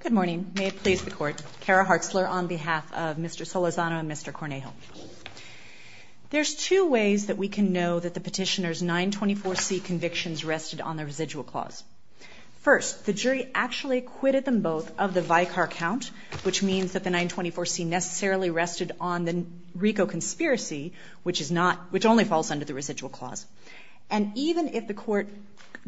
Good morning. May it please the court. Kara Hartzler on behalf of Mr. Solorzano and Mr. Cornejo. There's two ways that we can know that the petitioner's 924C convictions rested on the residual clause. First, the jury actually acquitted them both of the Vicar Count, which means that the 924C necessarily rested on the RICO conspiracy, which only falls under the residual clause. And even if the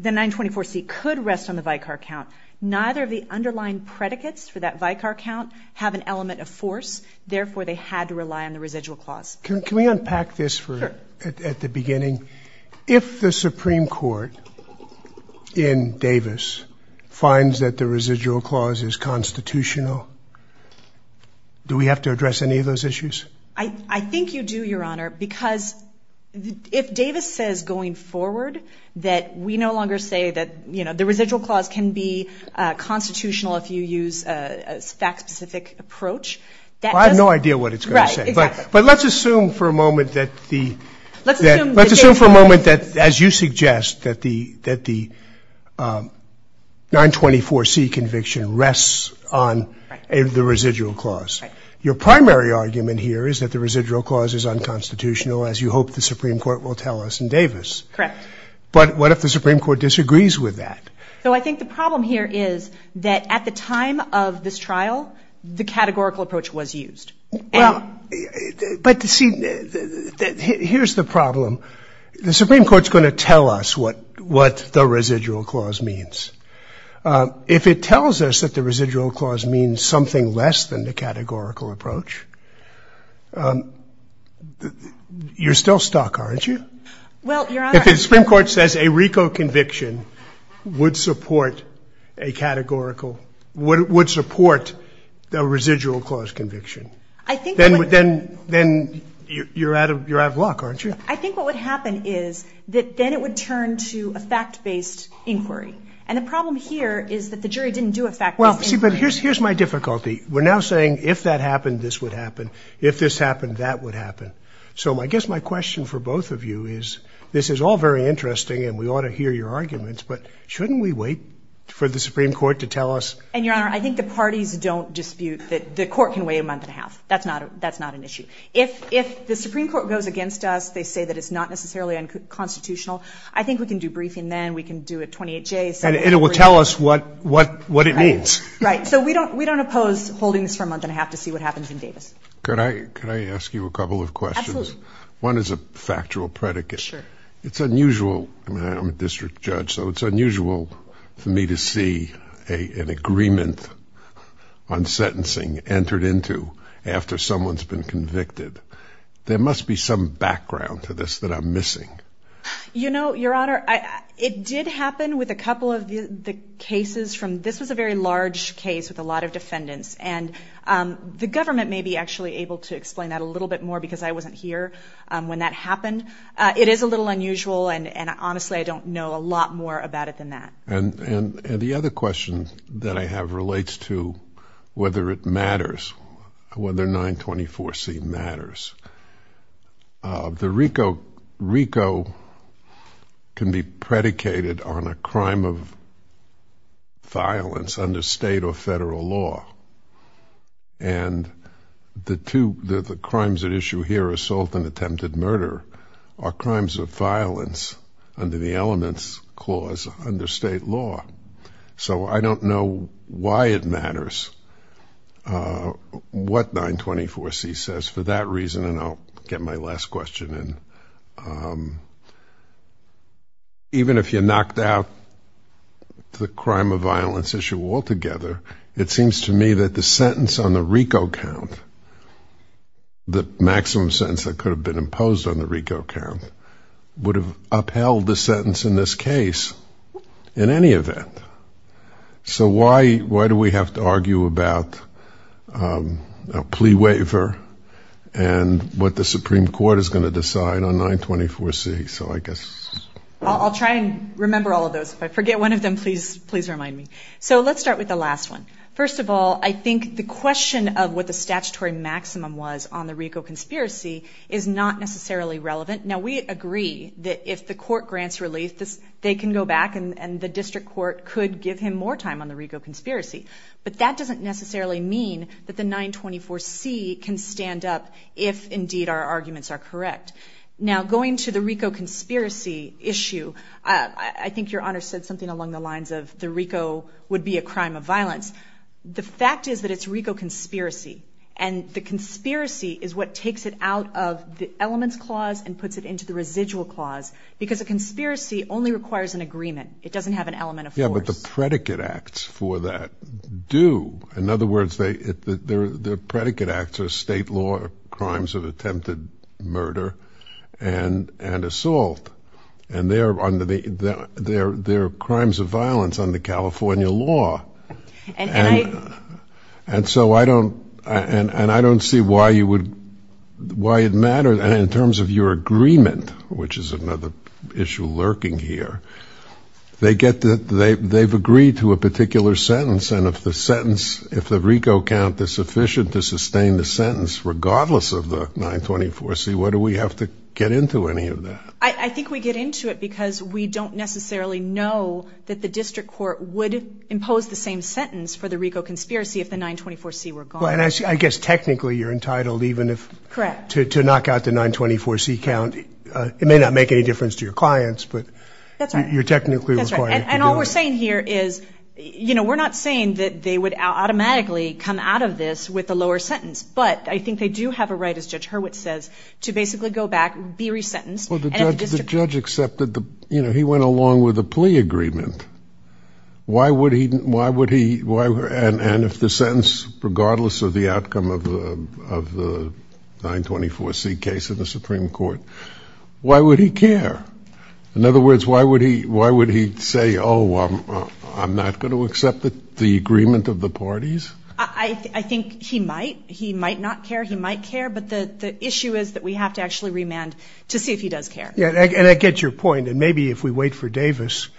924C could rest on the Vicar Count, neither of the underlying predicates for that Vicar Count have an element of force. Therefore, they had to rely on the residual clause. Can we unpack this at the beginning? If the Supreme Court in Davis finds that the residual clause is constitutional, do we have to address any of those issues? I think you do, Your Honor, because if Davis says going forward that we no longer say that, you know, the residual clause can be constitutional if you use a fact-specific approach. Well, I have no idea what it's going to say, but let's assume for a moment that as you suggest, that the 924C conviction rests on the residual clause. Your primary argument here is that the residual clause is unconstitutional, as you hope the Supreme Court will tell us in Davis. Correct. But what if the Supreme Court disagrees with that? So I think the problem here is that at the time of this trial, the categorical approach was used. Well, but see, here's the problem. The Supreme Court's going to tell us what the residual clause means. If it tells us that the residual clause means something less than the categorical approach, you're still stuck, aren't you? Well, Your Honor. If the Supreme Court says a RICO conviction would support a categorical, would support the residual clause conviction, then you're out of luck, aren't you? I think what would happen is that then it would turn to a fact-based inquiry. And the problem here is that the jury didn't do a fact-based inquiry. Well, see, but here's my difficulty. We're now saying if that happened, this would happen. If this happened, that would happen. So I guess my question for both of you is this is all very interesting, and we ought to hear your arguments, but shouldn't we wait for the Supreme Court to tell us? And, Your Honor, I think the parties don't dispute that the court can wait a month and a half. That's not an issue. If the Supreme Court goes against us, they say that it's not necessarily unconstitutional, I think we can do briefing then. We can do a 28-J. And it will tell us what it means. Right. So we don't oppose holding this for a month and a half to see what happens in Davis. Could I ask you a couple of questions? Absolutely. One is a factual predicate. Sure. It's unusual. I mean, I'm a district judge, so it's unusual for me to see an agreement on sentencing entered into after someone's been convicted. There must be some background to this that I'm missing. You know, Your Honor, it did happen with a couple of the cases from this was a very large case with a lot of defendants, and the government may be actually able to explain that a little bit more because I wasn't here when that happened. It is a little unusual, and honestly, I don't know a lot more about it than that. And the other question that I have relates to whether it matters, whether 924C matters. The RICO can be predicated on a crime of violence under state or federal law, and the crimes at issue here, assault and attempted murder, are crimes of violence under the elements clause under state law. So I don't know why it matters what 924C says for that reason, and I'll get my last question in. Even if you knocked out the crime of violence issue altogether, it seems to me that the sentence on the RICO count, the maximum sentence that could have been imposed on the RICO count, would have upheld the sentence in this case in any event. So why do we have to argue about a plea waiver and what the Supreme Court is going to decide on 924C? I'll try and remember all of those. If I forget one of them, please remind me. So let's start with the last one. First of all, I think the question of what the statutory maximum was on the RICO conspiracy is not necessarily relevant. Now, we agree that if the court grants relief, they can go back and the district court could give him more time on the RICO conspiracy. But that doesn't necessarily mean that the 924C can stand up if, indeed, our arguments are correct. Now, going to the RICO conspiracy issue, I think Your Honor said something along the lines of the RICO would be a crime of violence. The fact is that it's RICO conspiracy, and the conspiracy is what takes it out of the elements clause and puts it into the residual clause because a conspiracy only requires an agreement. It doesn't have an element of force. Yeah, but the predicate acts for that do. In other words, their predicate acts are state law crimes of attempted murder and assault. And they're crimes of violence under California law. And so I don't see why it matters. And in terms of your agreement, which is another issue lurking here, they've agreed to a particular sentence. And if the RICO count is sufficient to sustain the sentence regardless of the 924C, why do we have to get into any of that? I think we get into it because we don't necessarily know that the district court would impose the same sentence for the RICO conspiracy if the 924C were gone. Well, and I guess technically you're entitled even to knock out the 924C count. It may not make any difference to your clients, but you're technically required to do it. That's right. And all we're saying here is, you know, we're not saying that they would automatically come out of this with a lower sentence. But I think they do have a right, as Judge Hurwitz says, to basically go back and be resentenced. Well, the judge accepted the, you know, he went along with the plea agreement. Why would he, and if the sentence, regardless of the outcome of the 924C case in the Supreme Court, why would he care? In other words, why would he say, oh, I'm not going to accept the agreement of the parties? I think he might. He might not care. He might care. But the issue is that we have to actually remand to see if he does care. And I get your point. And maybe if we wait for Davis,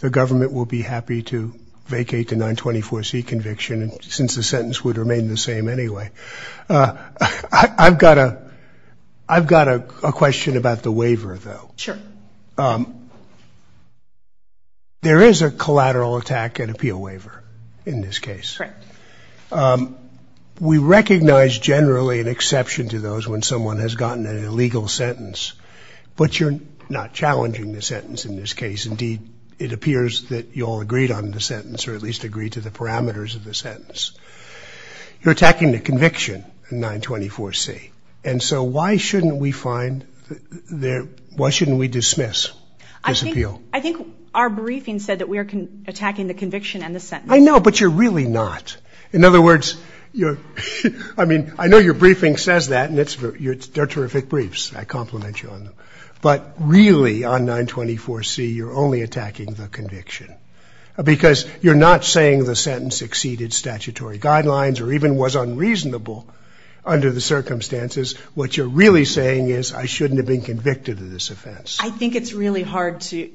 the government will be happy to vacate the 924C conviction, since the sentence would remain the same anyway. I've got a question about the waiver, though. Sure. There is a collateral attack and appeal waiver in this case. Correct. We recognize generally an exception to those when someone has gotten an illegal sentence. But you're not challenging the sentence in this case. Indeed, it appears that you all agreed on the sentence, or at least agreed to the parameters of the sentence. You're attacking the conviction in 924C. And so why shouldn't we find, why shouldn't we dismiss this appeal? I think our briefing said that we are attacking the conviction and the sentence. I know, but you're really not. In other words, I mean, I know your briefing says that, and they're terrific briefs. I compliment you on them. But really, on 924C, you're only attacking the conviction, because you're not saying the sentence exceeded statutory guidelines or even was unreasonable under the circumstances. What you're really saying is I shouldn't have been convicted of this offense. I think it's really hard to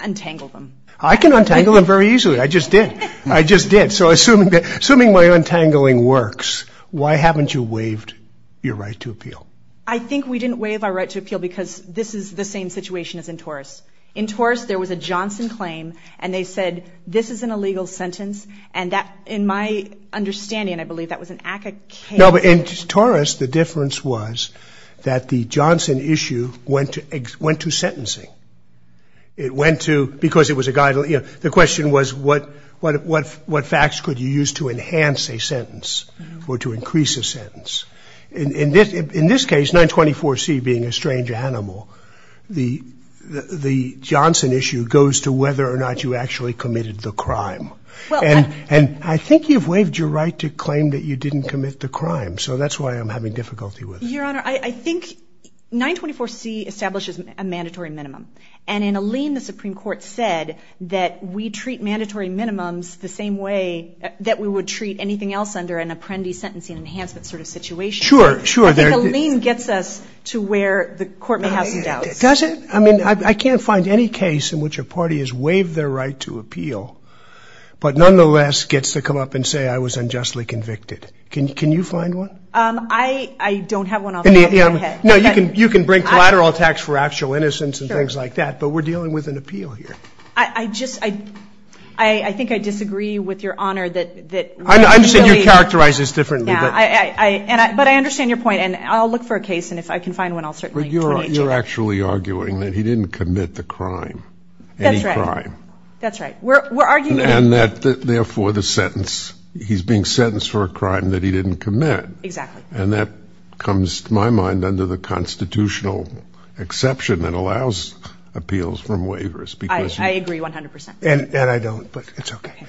untangle them. I can untangle them very easily. I just did. I just did. So assuming my untangling works, why haven't you waived your right to appeal? I think we didn't waive our right to appeal because this is the same situation as in Torres. In Torres, there was a Johnson claim, and they said this is an illegal sentence. And in my understanding, I believe, that was an act of case. No, but in Torres, the difference was that the Johnson issue went to sentencing. It went to because it was a guideline. The question was what facts could you use to enhance a sentence or to increase a sentence. In this case, 924C being a strange animal, the Johnson issue goes to whether or not you actually committed the crime. And I think you've waived your right to claim that you didn't commit the crime. So that's why I'm having difficulty with it. Your Honor, I think 924C establishes a mandatory minimum. And in Alene, the Supreme Court said that we treat mandatory minimums the same way that we would treat anything else under an apprentice sentencing enhancement sort of situation. Sure, sure. I think Alene gets us to where the Court may have some doubts. Does it? I mean, I can't find any case in which a party has waived their right to appeal, but nonetheless gets to come up and say I was unjustly convicted. Can you find one? I don't have one off the top of my head. No, you can bring collateral attacks for actual innocence and things like that, but we're dealing with an appeal here. I just, I think I disagree with Your Honor that. I understand you characterize this differently. Yeah, but I understand your point. And I'll look for a case, and if I can find one, I'll certainly turn it to you. But you're actually arguing that he didn't commit the crime, any crime. That's right. That's right. We're arguing. And that, therefore, the sentence, he's being sentenced for a crime that he didn't commit. Exactly. And that comes to my mind under the constitutional exception that allows appeals from waivers. I agree 100%. And I don't, but it's okay.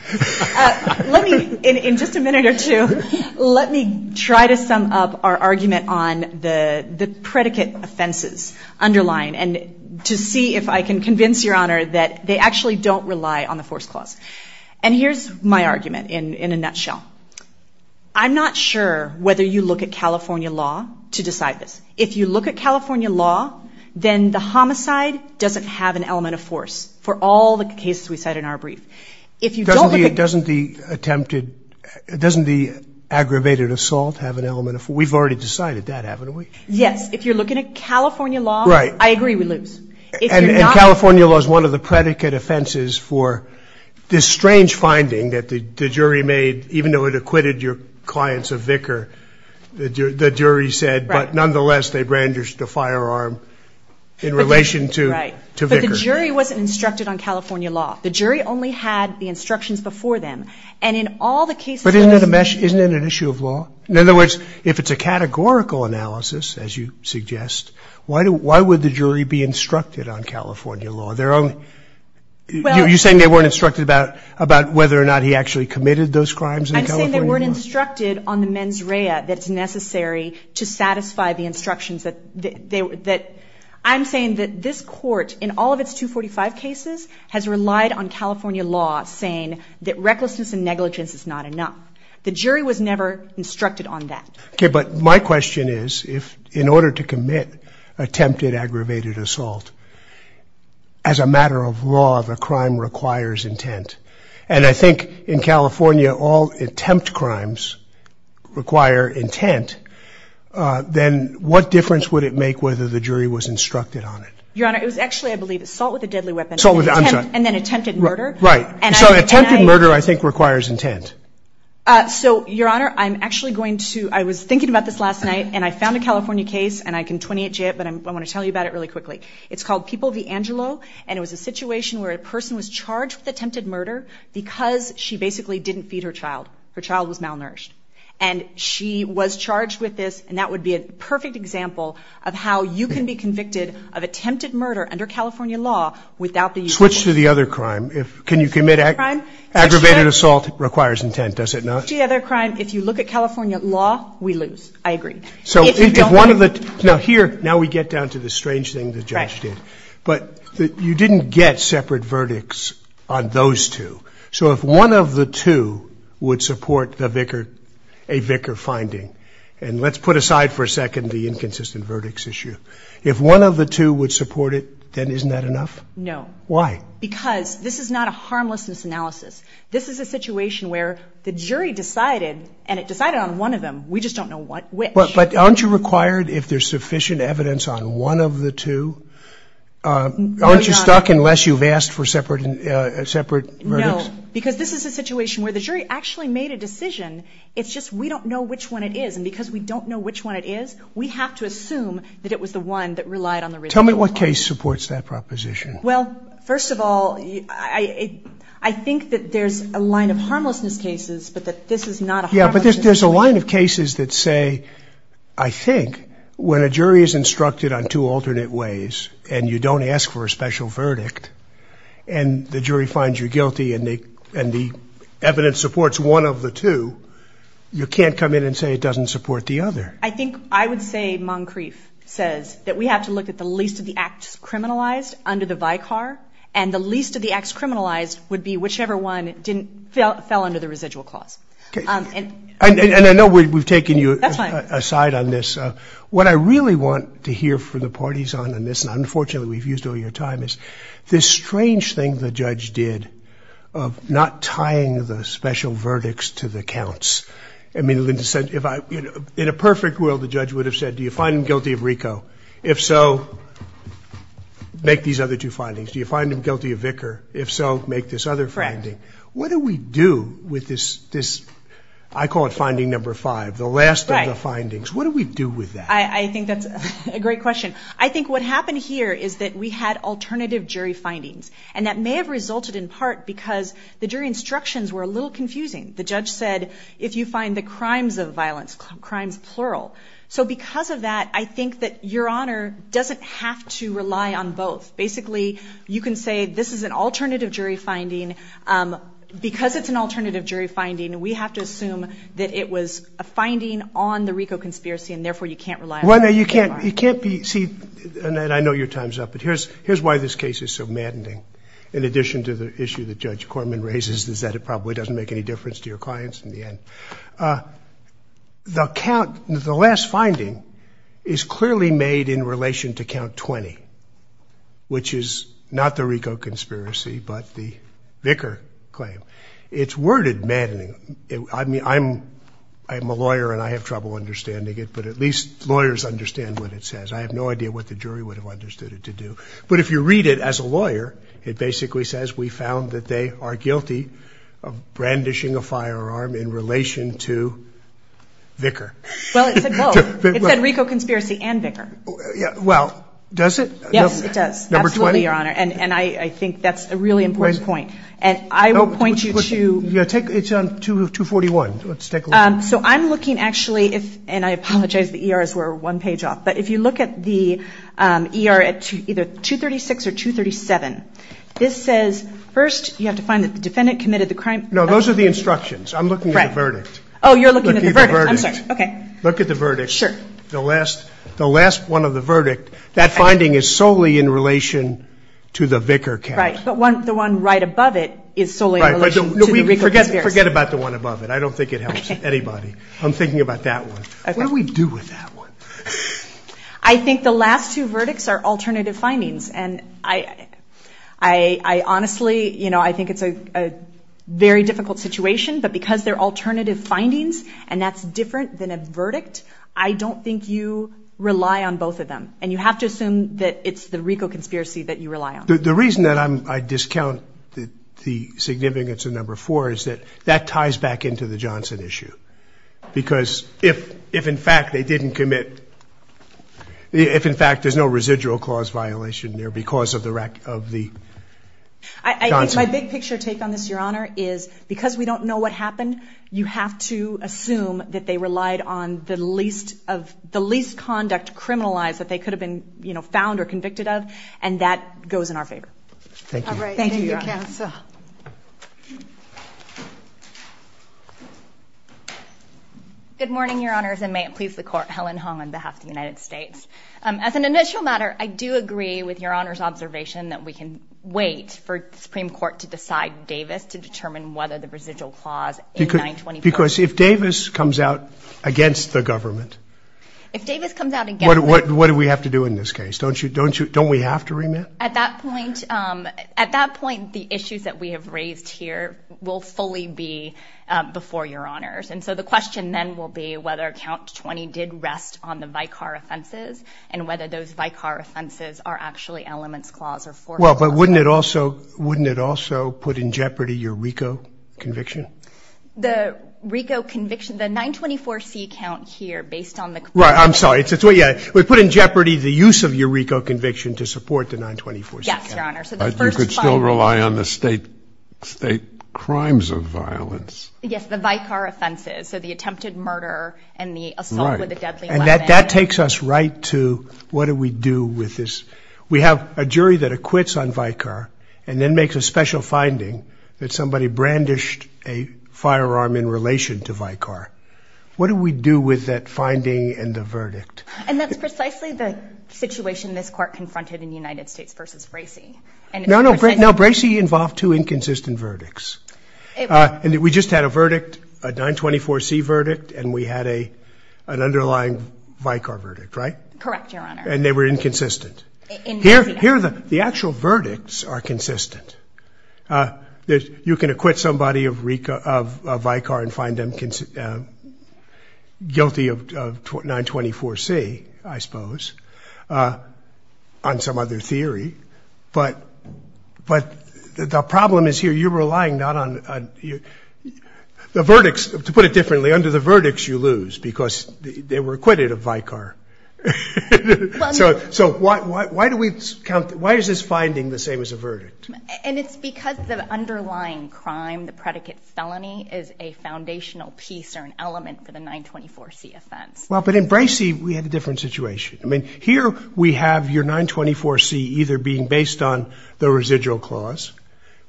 Let me, in just a minute or two, let me try to sum up our argument on the predicate offenses underlying and to see if I can convince Your Honor that they actually don't rely on the force clause. And here's my argument in a nutshell. I'm not sure whether you look at California law to decide this. If you look at California law, then the homicide doesn't have an element of force for all the cases we cite in our brief. Doesn't the attempted, doesn't the aggravated assault have an element of force? We've already decided that, haven't we? Yes. If you're looking at California law, I agree we lose. And California law is one of the predicate offenses for this strange finding that the jury made, even though it acquitted your clients of vicar, the jury said, but nonetheless they brandished a firearm in relation to vicar. Right. But the jury wasn't instructed on California law. The jury only had the instructions before them. And in all the cases that I've seen. But isn't it an issue of law? In other words, if it's a categorical analysis, as you suggest, why would the jury be instructed on California law? You're saying they weren't instructed about whether or not he actually committed those crimes in California law? I'm saying they weren't instructed on the mens rea that's necessary to satisfy the instructions. I'm saying that this court, in all of its 245 cases, has relied on California law saying that recklessness and negligence is not enough. The jury was never instructed on that. Okay, but my question is, in order to commit attempted aggravated assault, as a matter of law, the crime requires intent. And I think in California, all attempt crimes require intent. Then what difference would it make whether the jury was instructed on it? Your Honor, it was actually, I believe, assault with a deadly weapon. I'm sorry. And then attempted murder. Right. So attempted murder, I think, requires intent. So, Your Honor, I'm actually going to, I was thinking about this last night, and I found a California case, and I can 20H it, but I want to tell you about it really quickly. It's called People v. Angelo, and it was a situation where a person was charged with attempted murder because she basically didn't feed her child. Her child was malnourished. And she was charged with this, and that would be a perfect example of how you can be convicted of attempted murder under California law without the usual. Switch to the other crime. Can you commit aggravated assault? Requires intent, does it not? Switch to the other crime. If you look at California law, we lose. I agree. So if one of the, now here, now we get down to the strange thing the judge did. Right. But you didn't get separate verdicts on those two. So if one of the two would support the vicar, a vicar finding, and let's put aside for a second the inconsistent verdicts issue. If one of the two would support it, then isn't that enough? No. Why? Because this is not a harmlessness analysis. This is a situation where the jury decided, and it decided on one of them, we just don't know which. But aren't you required if there's sufficient evidence on one of the two, aren't you stuck unless you've asked for separate verdicts? No. Because this is a situation where the jury actually made a decision, it's just we don't know which one it is. And because we don't know which one it is, we have to assume that it was the one that relied on the original one. Tell me what case supports that proposition. Well, first of all, I think that there's a line of harmlessness cases, but that this is not a harmlessness case. Yeah, but there's a line of cases that say, I think, when a jury is instructed on two alternate ways and you don't ask for a special verdict and the jury finds you guilty and the evidence supports one of the two, you can't come in and say it doesn't support the other. I think I would say Moncrief says that we have to look at the least of the acts criminalized under the VICAR, and the least of the acts criminalized would be whichever one fell under the residual clause. Okay. And I know we've taken you aside on this. That's fine. What I really want to hear from the parties on this, and unfortunately we've used all your time, is this strange thing the judge did of not tying the special verdicts to the counts. I mean, in a perfect world the judge would have said, do you find him guilty of RICO? If so, make these other two findings. Do you find him guilty of VICAR? If so, make this other finding. Correct. What do we do with this, I call it finding number five, the last of the findings. What do we do with that? I think that's a great question. I think what happened here is that we had alternative jury findings, and that may have resulted in part because the jury instructions were a little confusing. The judge said, if you find the crimes of violence, crimes plural. So because of that, I think that Your Honor doesn't have to rely on both. Basically, you can say this is an alternative jury finding. Because it's an alternative jury finding, we have to assume that it was a finding on the RICO conspiracy, and therefore you can't rely on it. You can't be, see, Annette, I know your time's up, but here's why this case is so maddening, in addition to the issue that Judge Corman raises, is that it probably doesn't make any difference to your clients in the end. The last finding is clearly made in relation to count 20, which is not the RICO conspiracy, but the Vicker claim. It's worded maddening. I mean, I'm a lawyer and I have trouble understanding it, but at least lawyers understand what it says. I have no idea what the jury would have understood it to do. But if you read it as a lawyer, it basically says we found that they are guilty of brandishing a firearm in relation to Vicker. Well, it said both. It said RICO conspiracy and Vicker. Well, does it? Yes, it does. Absolutely, Your Honor. And I think that's a really important point. And I will point you to. It's on 241. Let's take a look. So I'm looking actually, and I apologize, the ERs were one page off. But if you look at the ER at either 236 or 237, this says first you have to find that the defendant committed the crime. No, those are the instructions. I'm looking at the verdict. Oh, you're looking at the verdict. I'm sorry. Okay. Look at the verdict. Sure. The last one of the verdict, that finding is solely in relation to the Vicker count. Right. But the one right above it is solely in relation to the RICO conspiracy. Forget about the one above it. I don't think it helps anybody. I'm thinking about that one. What do we do with that one? I think the last two verdicts are alternative findings. And I honestly, you know, I think it's a very difficult situation, but because they're alternative findings, and that's different than a verdict, I don't think you rely on both of them. And you have to assume that it's the RICO conspiracy that you rely on. The reason that I discount the significance of number four is that that ties back into the Johnson issue. Because if, in fact, they didn't commit, if, in fact, there's no residual clause violation there because of the Johnson. I think my big picture take on this, Your Honor, is because we don't know what happened, you have to assume that they relied on the least conduct criminalized that they could have been found or convicted of, and that goes in our favor. Thank you. All right. Thank you, Counsel. Good morning, Your Honors, and may it please the Court, Helen Hong on behalf of the United States. As an initial matter, I do agree with Your Honor's observation that we can wait for the Supreme Court to decide Davis to determine whether the residual clause A925. Because if Davis comes out against the government. If Davis comes out against the government. What do we have to do in this case? Don't we have to remit? At that point, the issues that we have raised here will fully be before Your Honors. And so the question then will be whether Count 20 did rest on the Vicar offenses and whether those Vicar offenses are actually elements clause or formal. Well, but wouldn't it also put in jeopardy your RICO conviction? The RICO conviction, the 924C count here based on the. Right, I'm sorry. We put in jeopardy the use of your RICO conviction to support the 924C count. Yes, Your Honor. You could still rely on the state crimes of violence. Yes, the Vicar offenses. So the attempted murder and the assault with a deadly weapon. And that takes us right to what do we do with this? We have a jury that acquits on Vicar and then makes a special finding that somebody brandished a firearm in relation to Vicar. What do we do with that finding and the verdict? And that's precisely the situation this court confronted in the United States versus Bracey. No, no, Bracey involved two inconsistent verdicts. We just had a 924C verdict and we had an underlying Vicar verdict, right? Correct, Your Honor. And they were inconsistent. The actual verdicts are consistent. You can acquit somebody of Vicar and find them guilty of 924C, I suppose, on some other theory. But the problem is here you're relying not on the verdicts. To put it differently, under the verdicts you lose because they were acquitted of Vicar. So why is this finding the same as a verdict? And it's because the underlying crime, the predicate felony, is a foundational piece or an element for the 924C offense. Well, but in Bracey we had a different situation. I mean, here we have your 924C either being based on the residual clause,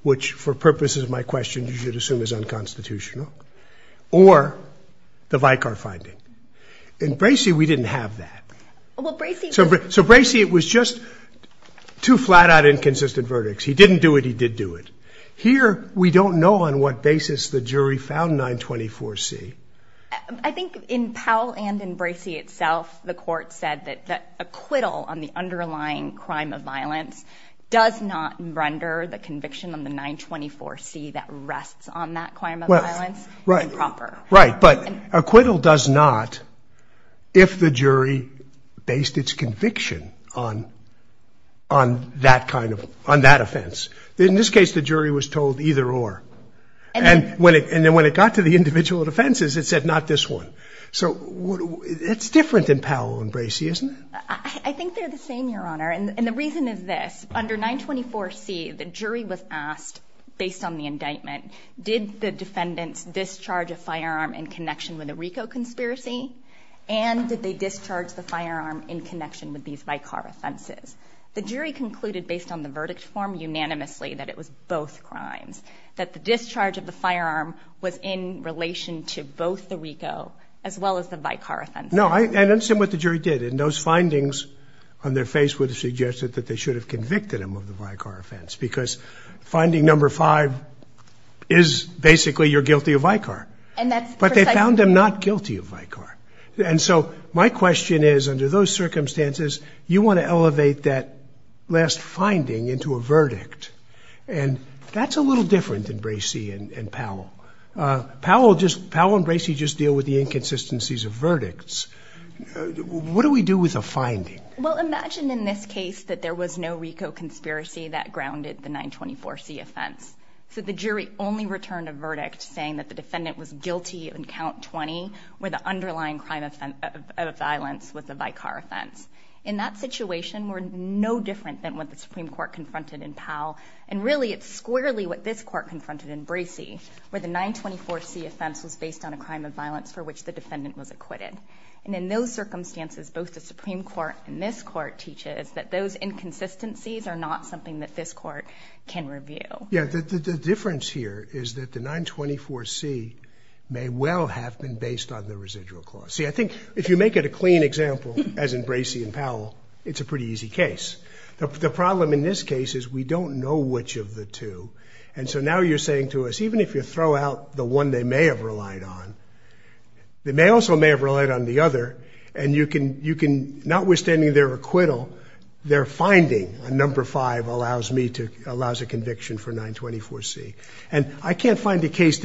which for purposes of my question you should assume is unconstitutional, or the Vicar finding. In Bracey we didn't have that. So Bracey it was just two flat-out inconsistent verdicts. He didn't do it, he did do it. Here we don't know on what basis the jury found 924C. I think in Powell and in Bracey itself, the court said that acquittal on the underlying crime of violence does not render the conviction on the 924C that rests on that crime of violence improper. Right, but acquittal does not if the jury based its conviction on that offense. In this case the jury was told either or. And then when it got to the individual offenses it said not this one. So it's different in Powell and Bracey, isn't it? I think they're the same, Your Honor, and the reason is this. Under 924C the jury was asked, based on the indictment, did the defendants discharge a firearm in connection with a RICO conspiracy and did they discharge the firearm in connection with these Vicar offenses. The jury concluded based on the verdict form unanimously that it was both crimes, that the discharge of the firearm was in relation to both the RICO as well as the Vicar offense. No, I understand what the jury did. And those findings on their face would have suggested that they should have convicted them of the Vicar offense because finding number five is basically you're guilty of Vicar. But they found them not guilty of Vicar. And so my question is, under those circumstances, you want to elevate that last finding into a verdict. And that's a little different than Bracey and Powell. Powell and Bracey just deal with the inconsistencies of verdicts. What do we do with a finding? Well, imagine in this case that there was no RICO conspiracy that grounded the 924C offense. So the jury only returned a verdict saying that the defendant was guilty on count 20 where the underlying crime of violence was the Vicar offense. In that situation, we're no different than what the Supreme Court confronted in Powell. And really it's squarely what this court confronted in Bracey where the 924C offense was based on a crime of violence for which the defendant was acquitted. And in those circumstances, both the Supreme Court and this court teaches that those inconsistencies are not something that this court can review. Yeah, the difference here is that the 924C may well have been based on the residual clause. See, I think if you make it a clean example, as in Bracey and Powell, it's a pretty easy case. The problem in this case is we don't know which of the two. And so now you're saying to us even if you throw out the one they may have relied on, they also may have relied on the other, and you can, notwithstanding their acquittal, their finding on number five allows a conviction for 924C. And I can't find a case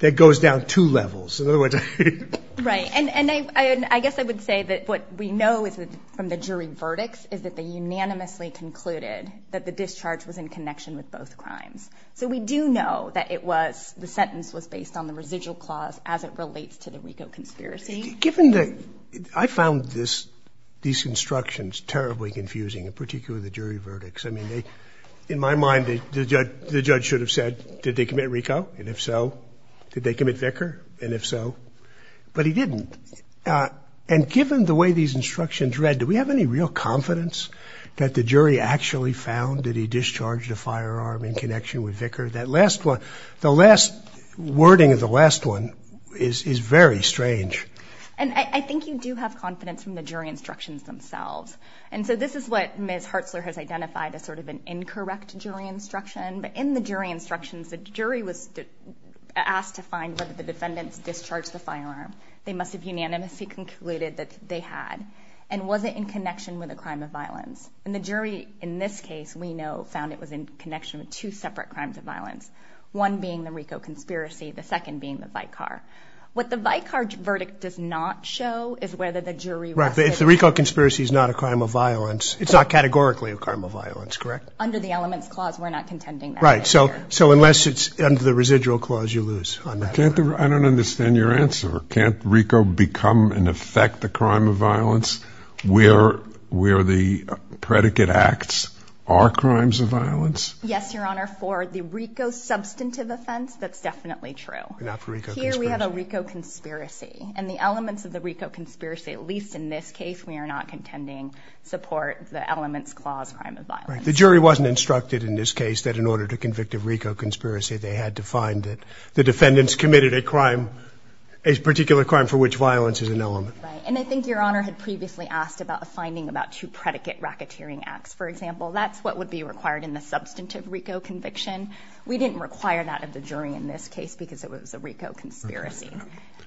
that goes down two levels. Right, and I guess I would say that what we know from the jury verdicts is that they unanimously concluded that the discharge was in connection with both crimes. So we do know that the sentence was based on the residual clause as it relates to the RICO conspiracy. I found these instructions terribly confusing, in particular the jury verdicts. In my mind, the judge should have said, did they commit RICO? And if so, did they commit Vicar? And if so, but he didn't. And given the way these instructions read, do we have any real confidence that the jury actually found that he discharged a firearm in connection with Vicar? The last wording of the last one is very strange. And I think you do have confidence from the jury instructions themselves. And so this is what Ms. Hartzler has identified as sort of an incorrect jury instruction. But in the jury instructions, the jury was asked to find whether the defendants discharged the firearm. They must have unanimously concluded that they had. And was it in connection with a crime of violence? And the jury in this case, we know, found it was in connection with two separate crimes of violence, one being the RICO conspiracy, the second being the Vicar. What the Vicar verdict does not show is whether the jury was... Right, if the RICO conspiracy is not a crime of violence, it's not categorically a crime of violence, correct? Under the elements clause, we're not contending that. Right, so unless it's under the residual clause, you lose on that. I don't understand your answer. Can't RICO become and affect the crime of violence where the predicate acts are crimes of violence? Yes, Your Honor, for the RICO substantive offense, that's definitely true. Not for RICO conspiracy. Here we have a RICO conspiracy. And the elements of the RICO conspiracy, at least in this case, we are not contending support the elements clause, crime of violence. The jury wasn't instructed in this case that in order to convict a RICO conspiracy, they had to find that the defendants committed a crime, a particular crime for which violence is an element. And I think Your Honor had previously asked about a finding about two predicate racketeering acts, for example. That's what would be required in the substantive RICO conviction. We didn't require that of the jury in this case because it was a RICO conspiracy.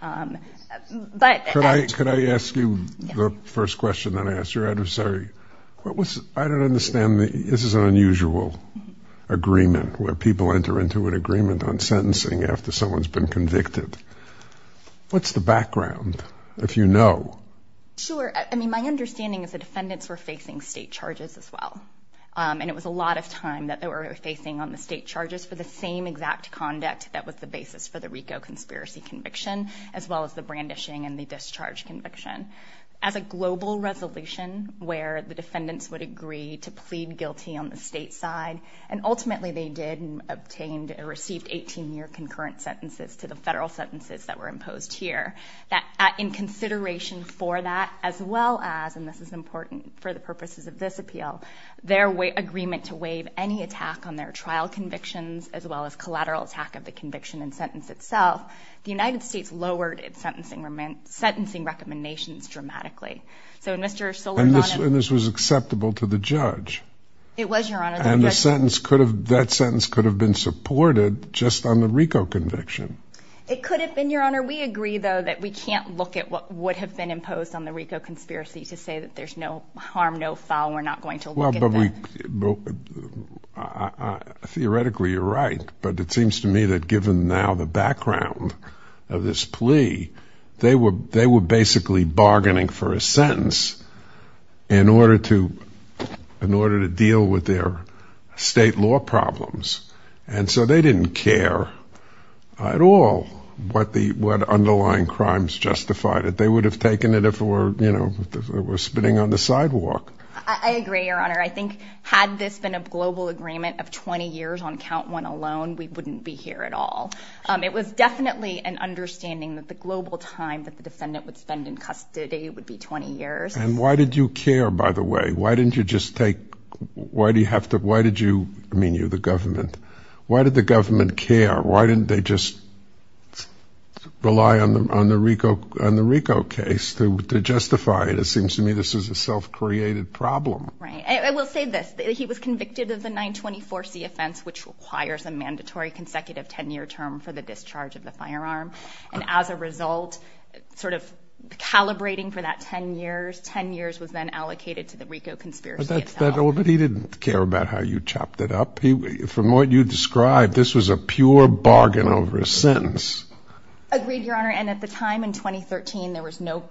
Could I ask you the first question that I asked your adversary? I don't understand. This is an unusual agreement where people enter into an agreement on sentencing after someone's been convicted. What's the background, if you know? Sure. I mean, my understanding is the defendants were facing state charges as well. And it was a lot of time that they were facing on the state charges for the same exact conduct that was the basis for the RICO conspiracy conviction, as well as the brandishing and the discharge conviction. As a global resolution where the defendants would agree to plead guilty on the state side, and ultimately they did and obtained and received 18-year concurrent sentences to the federal sentences that were imposed here, that in consideration for that, as well as, and this is important for the purposes of this appeal, their agreement to waive any attack on their trial convictions, as well as collateral attack of the conviction and sentence itself, the United States lowered its sentencing recommendations dramatically. And this was acceptable to the judge? It was, Your Honor. And that sentence could have been supported just on the RICO conviction? It could have been, Your Honor. We agree, though, that we can't look at what would have been imposed on the RICO conspiracy to say that there's no harm, no foul, we're not going to look at that? Theoretically, you're right. But it seems to me that given now the background of this plea, they were basically bargaining for a sentence in order to deal with their state law problems. And so they didn't care at all what underlying crimes justified it. They would have taken it if it were, you know, if it were spinning on the sidewalk. I agree, Your Honor. I think had this been a global agreement of 20 years on count one alone, we wouldn't be here at all. It was definitely an understanding that the global time that the defendant would spend in custody would be 20 years. And why did you care, by the way? Why didn't you just take, why do you have to, why did you, I mean, you're the government. Why did the government care? Why didn't they just rely on the RICO case to justify it? It seems to me this is a self-created problem. Right. I will say this. He was convicted of the 924C offense, which requires a mandatory consecutive 10-year term for the discharge of the firearm. And as a result, sort of calibrating for that 10 years, 10 years was then allocated to the RICO conspiracy itself. But he didn't care about how you chopped it up. From what you described, this was a pure bargain over a sentence. Agreed, Your Honor. And at the time in 2013, there was no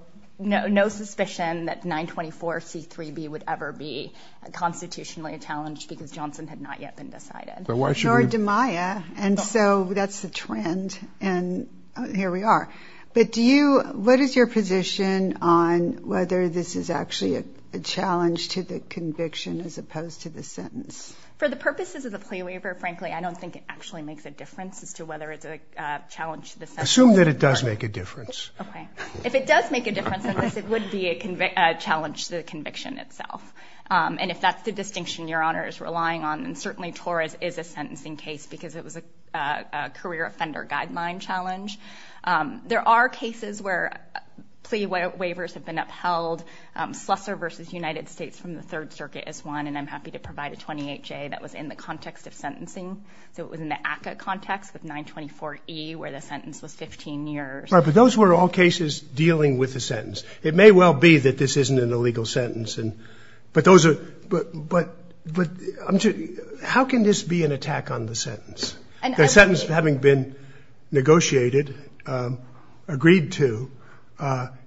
suspicion that 924C3B would ever be constitutionally challenged because Johnson had not yet been decided. Nor did Maya. And so that's the trend. And here we are. But do you, what is your position on whether this is actually a challenge to the conviction as opposed to the sentence? For the purposes of the plea waiver, frankly, I don't think it actually makes a difference as to whether it's a challenge to the sentence. Assume that it does make a difference. Okay. If it does make a difference in this, it would be a challenge to the conviction itself. And if that's the distinction Your Honor is relying on, then certainly Torres is a sentencing case because it was a career offender guideline challenge. There are cases where plea waivers have been upheld. Slessor v. United States from the Third Circuit is one. And I'm happy to provide a 28J that was in the context of sentencing. So it was in the ACCA context with 924E where the sentence was 15 years. Right. But those were all cases dealing with the sentence. It may well be that this isn't an illegal sentence. But those are, but how can this be an attack on the sentence? The sentence having been negotiated, agreed to,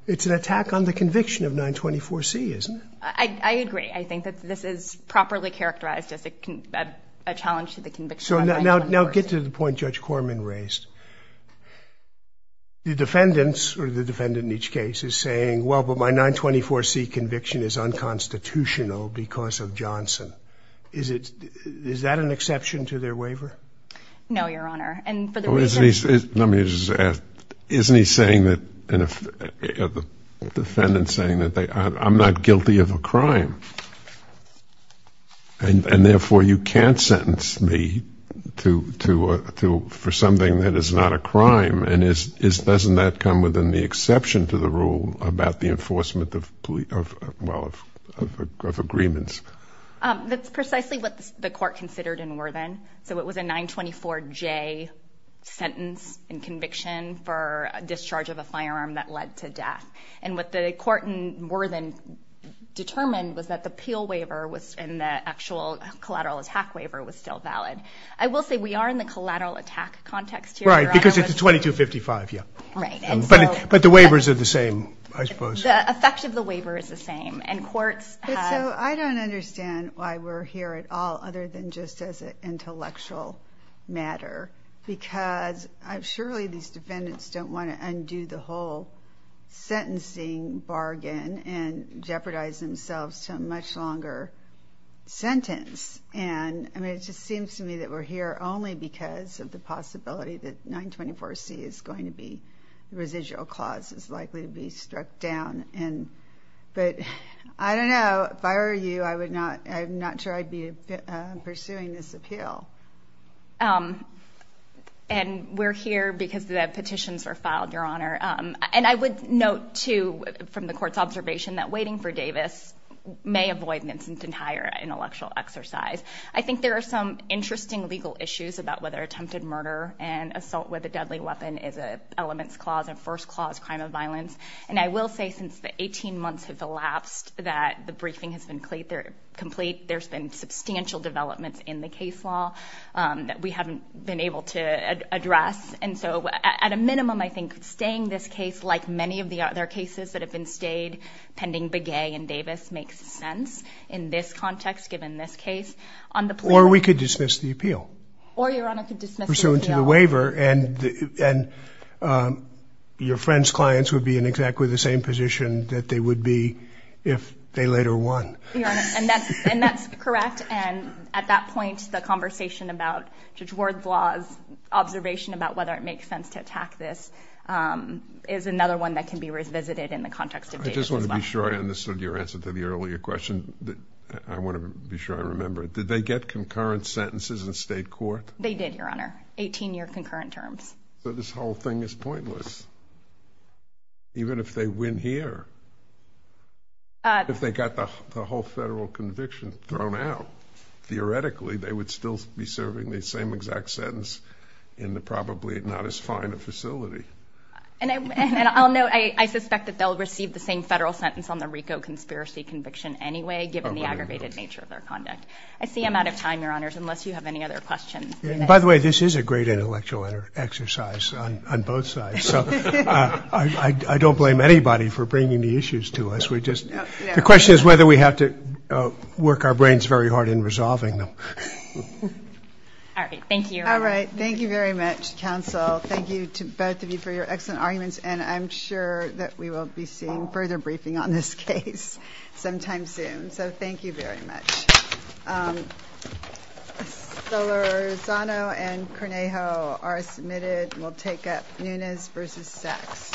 it's an attack on the conviction of 924C, isn't it? I agree. I think that this is properly characterized as a challenge to the conviction of 924C. So now get to the point Judge Corman raised. The defendants or the defendant in each case is saying, well, but my 924C conviction is unconstitutional because of Johnson. Is that an exception to their waiver? No, Your Honor. Let me just ask. Isn't he saying that, the defendant saying that I'm not guilty of a crime and therefore you can't sentence me for something that is not a crime? And doesn't that come within the exception to the rule about the enforcement of agreements? That's precisely what the court considered in Worthen. So it was a 924J sentence in conviction for discharge of a firearm that led to death. And what the court in Worthen determined was that the appeal waiver and the actual collateral attack waiver was still valid. I will say we are in the collateral attack context here, Your Honor. Right, because it's a 2255, yeah. Right. But the waivers are the same, I suppose. The effect of the waiver is the same. So I don't understand why we're here at all other than just as an intellectual matter because surely these defendants don't want to undo the whole sentencing bargain and jeopardize themselves to a much longer sentence. And it just seems to me that we're here only because of the possibility that 924C is going to be the residual clause is likely to be struck down. But I don't know. If I were you, I'm not sure I'd be pursuing this appeal. And we're here because the petitions were filed, Your Honor. And I would note, too, from the court's observation, that waiting for Davis may avoid an instant and higher intellectual exercise. I think there are some interesting legal issues about whether attempted murder and assault with a deadly weapon is an elements clause and first clause crime of violence. And I will say since the 18 months have elapsed that the briefing has been complete, there's been substantial developments in the case law that we haven't been able to address. And so, at a minimum, I think staying this case, like many of the other cases that have been stayed pending Begay and Davis, makes sense in this context, given this case. Or we could dismiss the appeal. Or Your Honor could dismiss the appeal. Or dismiss the waiver. And your friend's clients would be in exactly the same position that they would be if they later won. And that's correct. And at that point, the conversation about Judge Ward's laws, observation about whether it makes sense to attack this, is another one that can be revisited in the context of Davis as well. I just want to be sure I understood your answer to the earlier question. I want to be sure I remember it. Did they get concurrent sentences in state court? They did, Your Honor. 18 year concurrent terms. So this whole thing is pointless. Even if they win here. If they got the whole federal conviction thrown out, theoretically they would still be serving the same exact sentence in the probably not as fine a facility. And I'll note, I suspect that they'll receive the same federal sentence on the RICO conspiracy conviction anyway, given the aggravated nature of their conduct. I see I'm out of time, Your Honors, unless you have any other questions. By the way, this is a great intellectual exercise on both sides. So I don't blame anybody for bringing the issues to us. The question is whether we have to work our brains very hard in resolving them. All right. Thank you. All right. Thank you very much, counsel. Thank you to both of you for your excellent arguments. And I'm sure that we will be seeing further briefing on this case sometime soon. So thank you very much. Solorzano and Cornejo are submitted. We'll take up Nunes v. Sachs.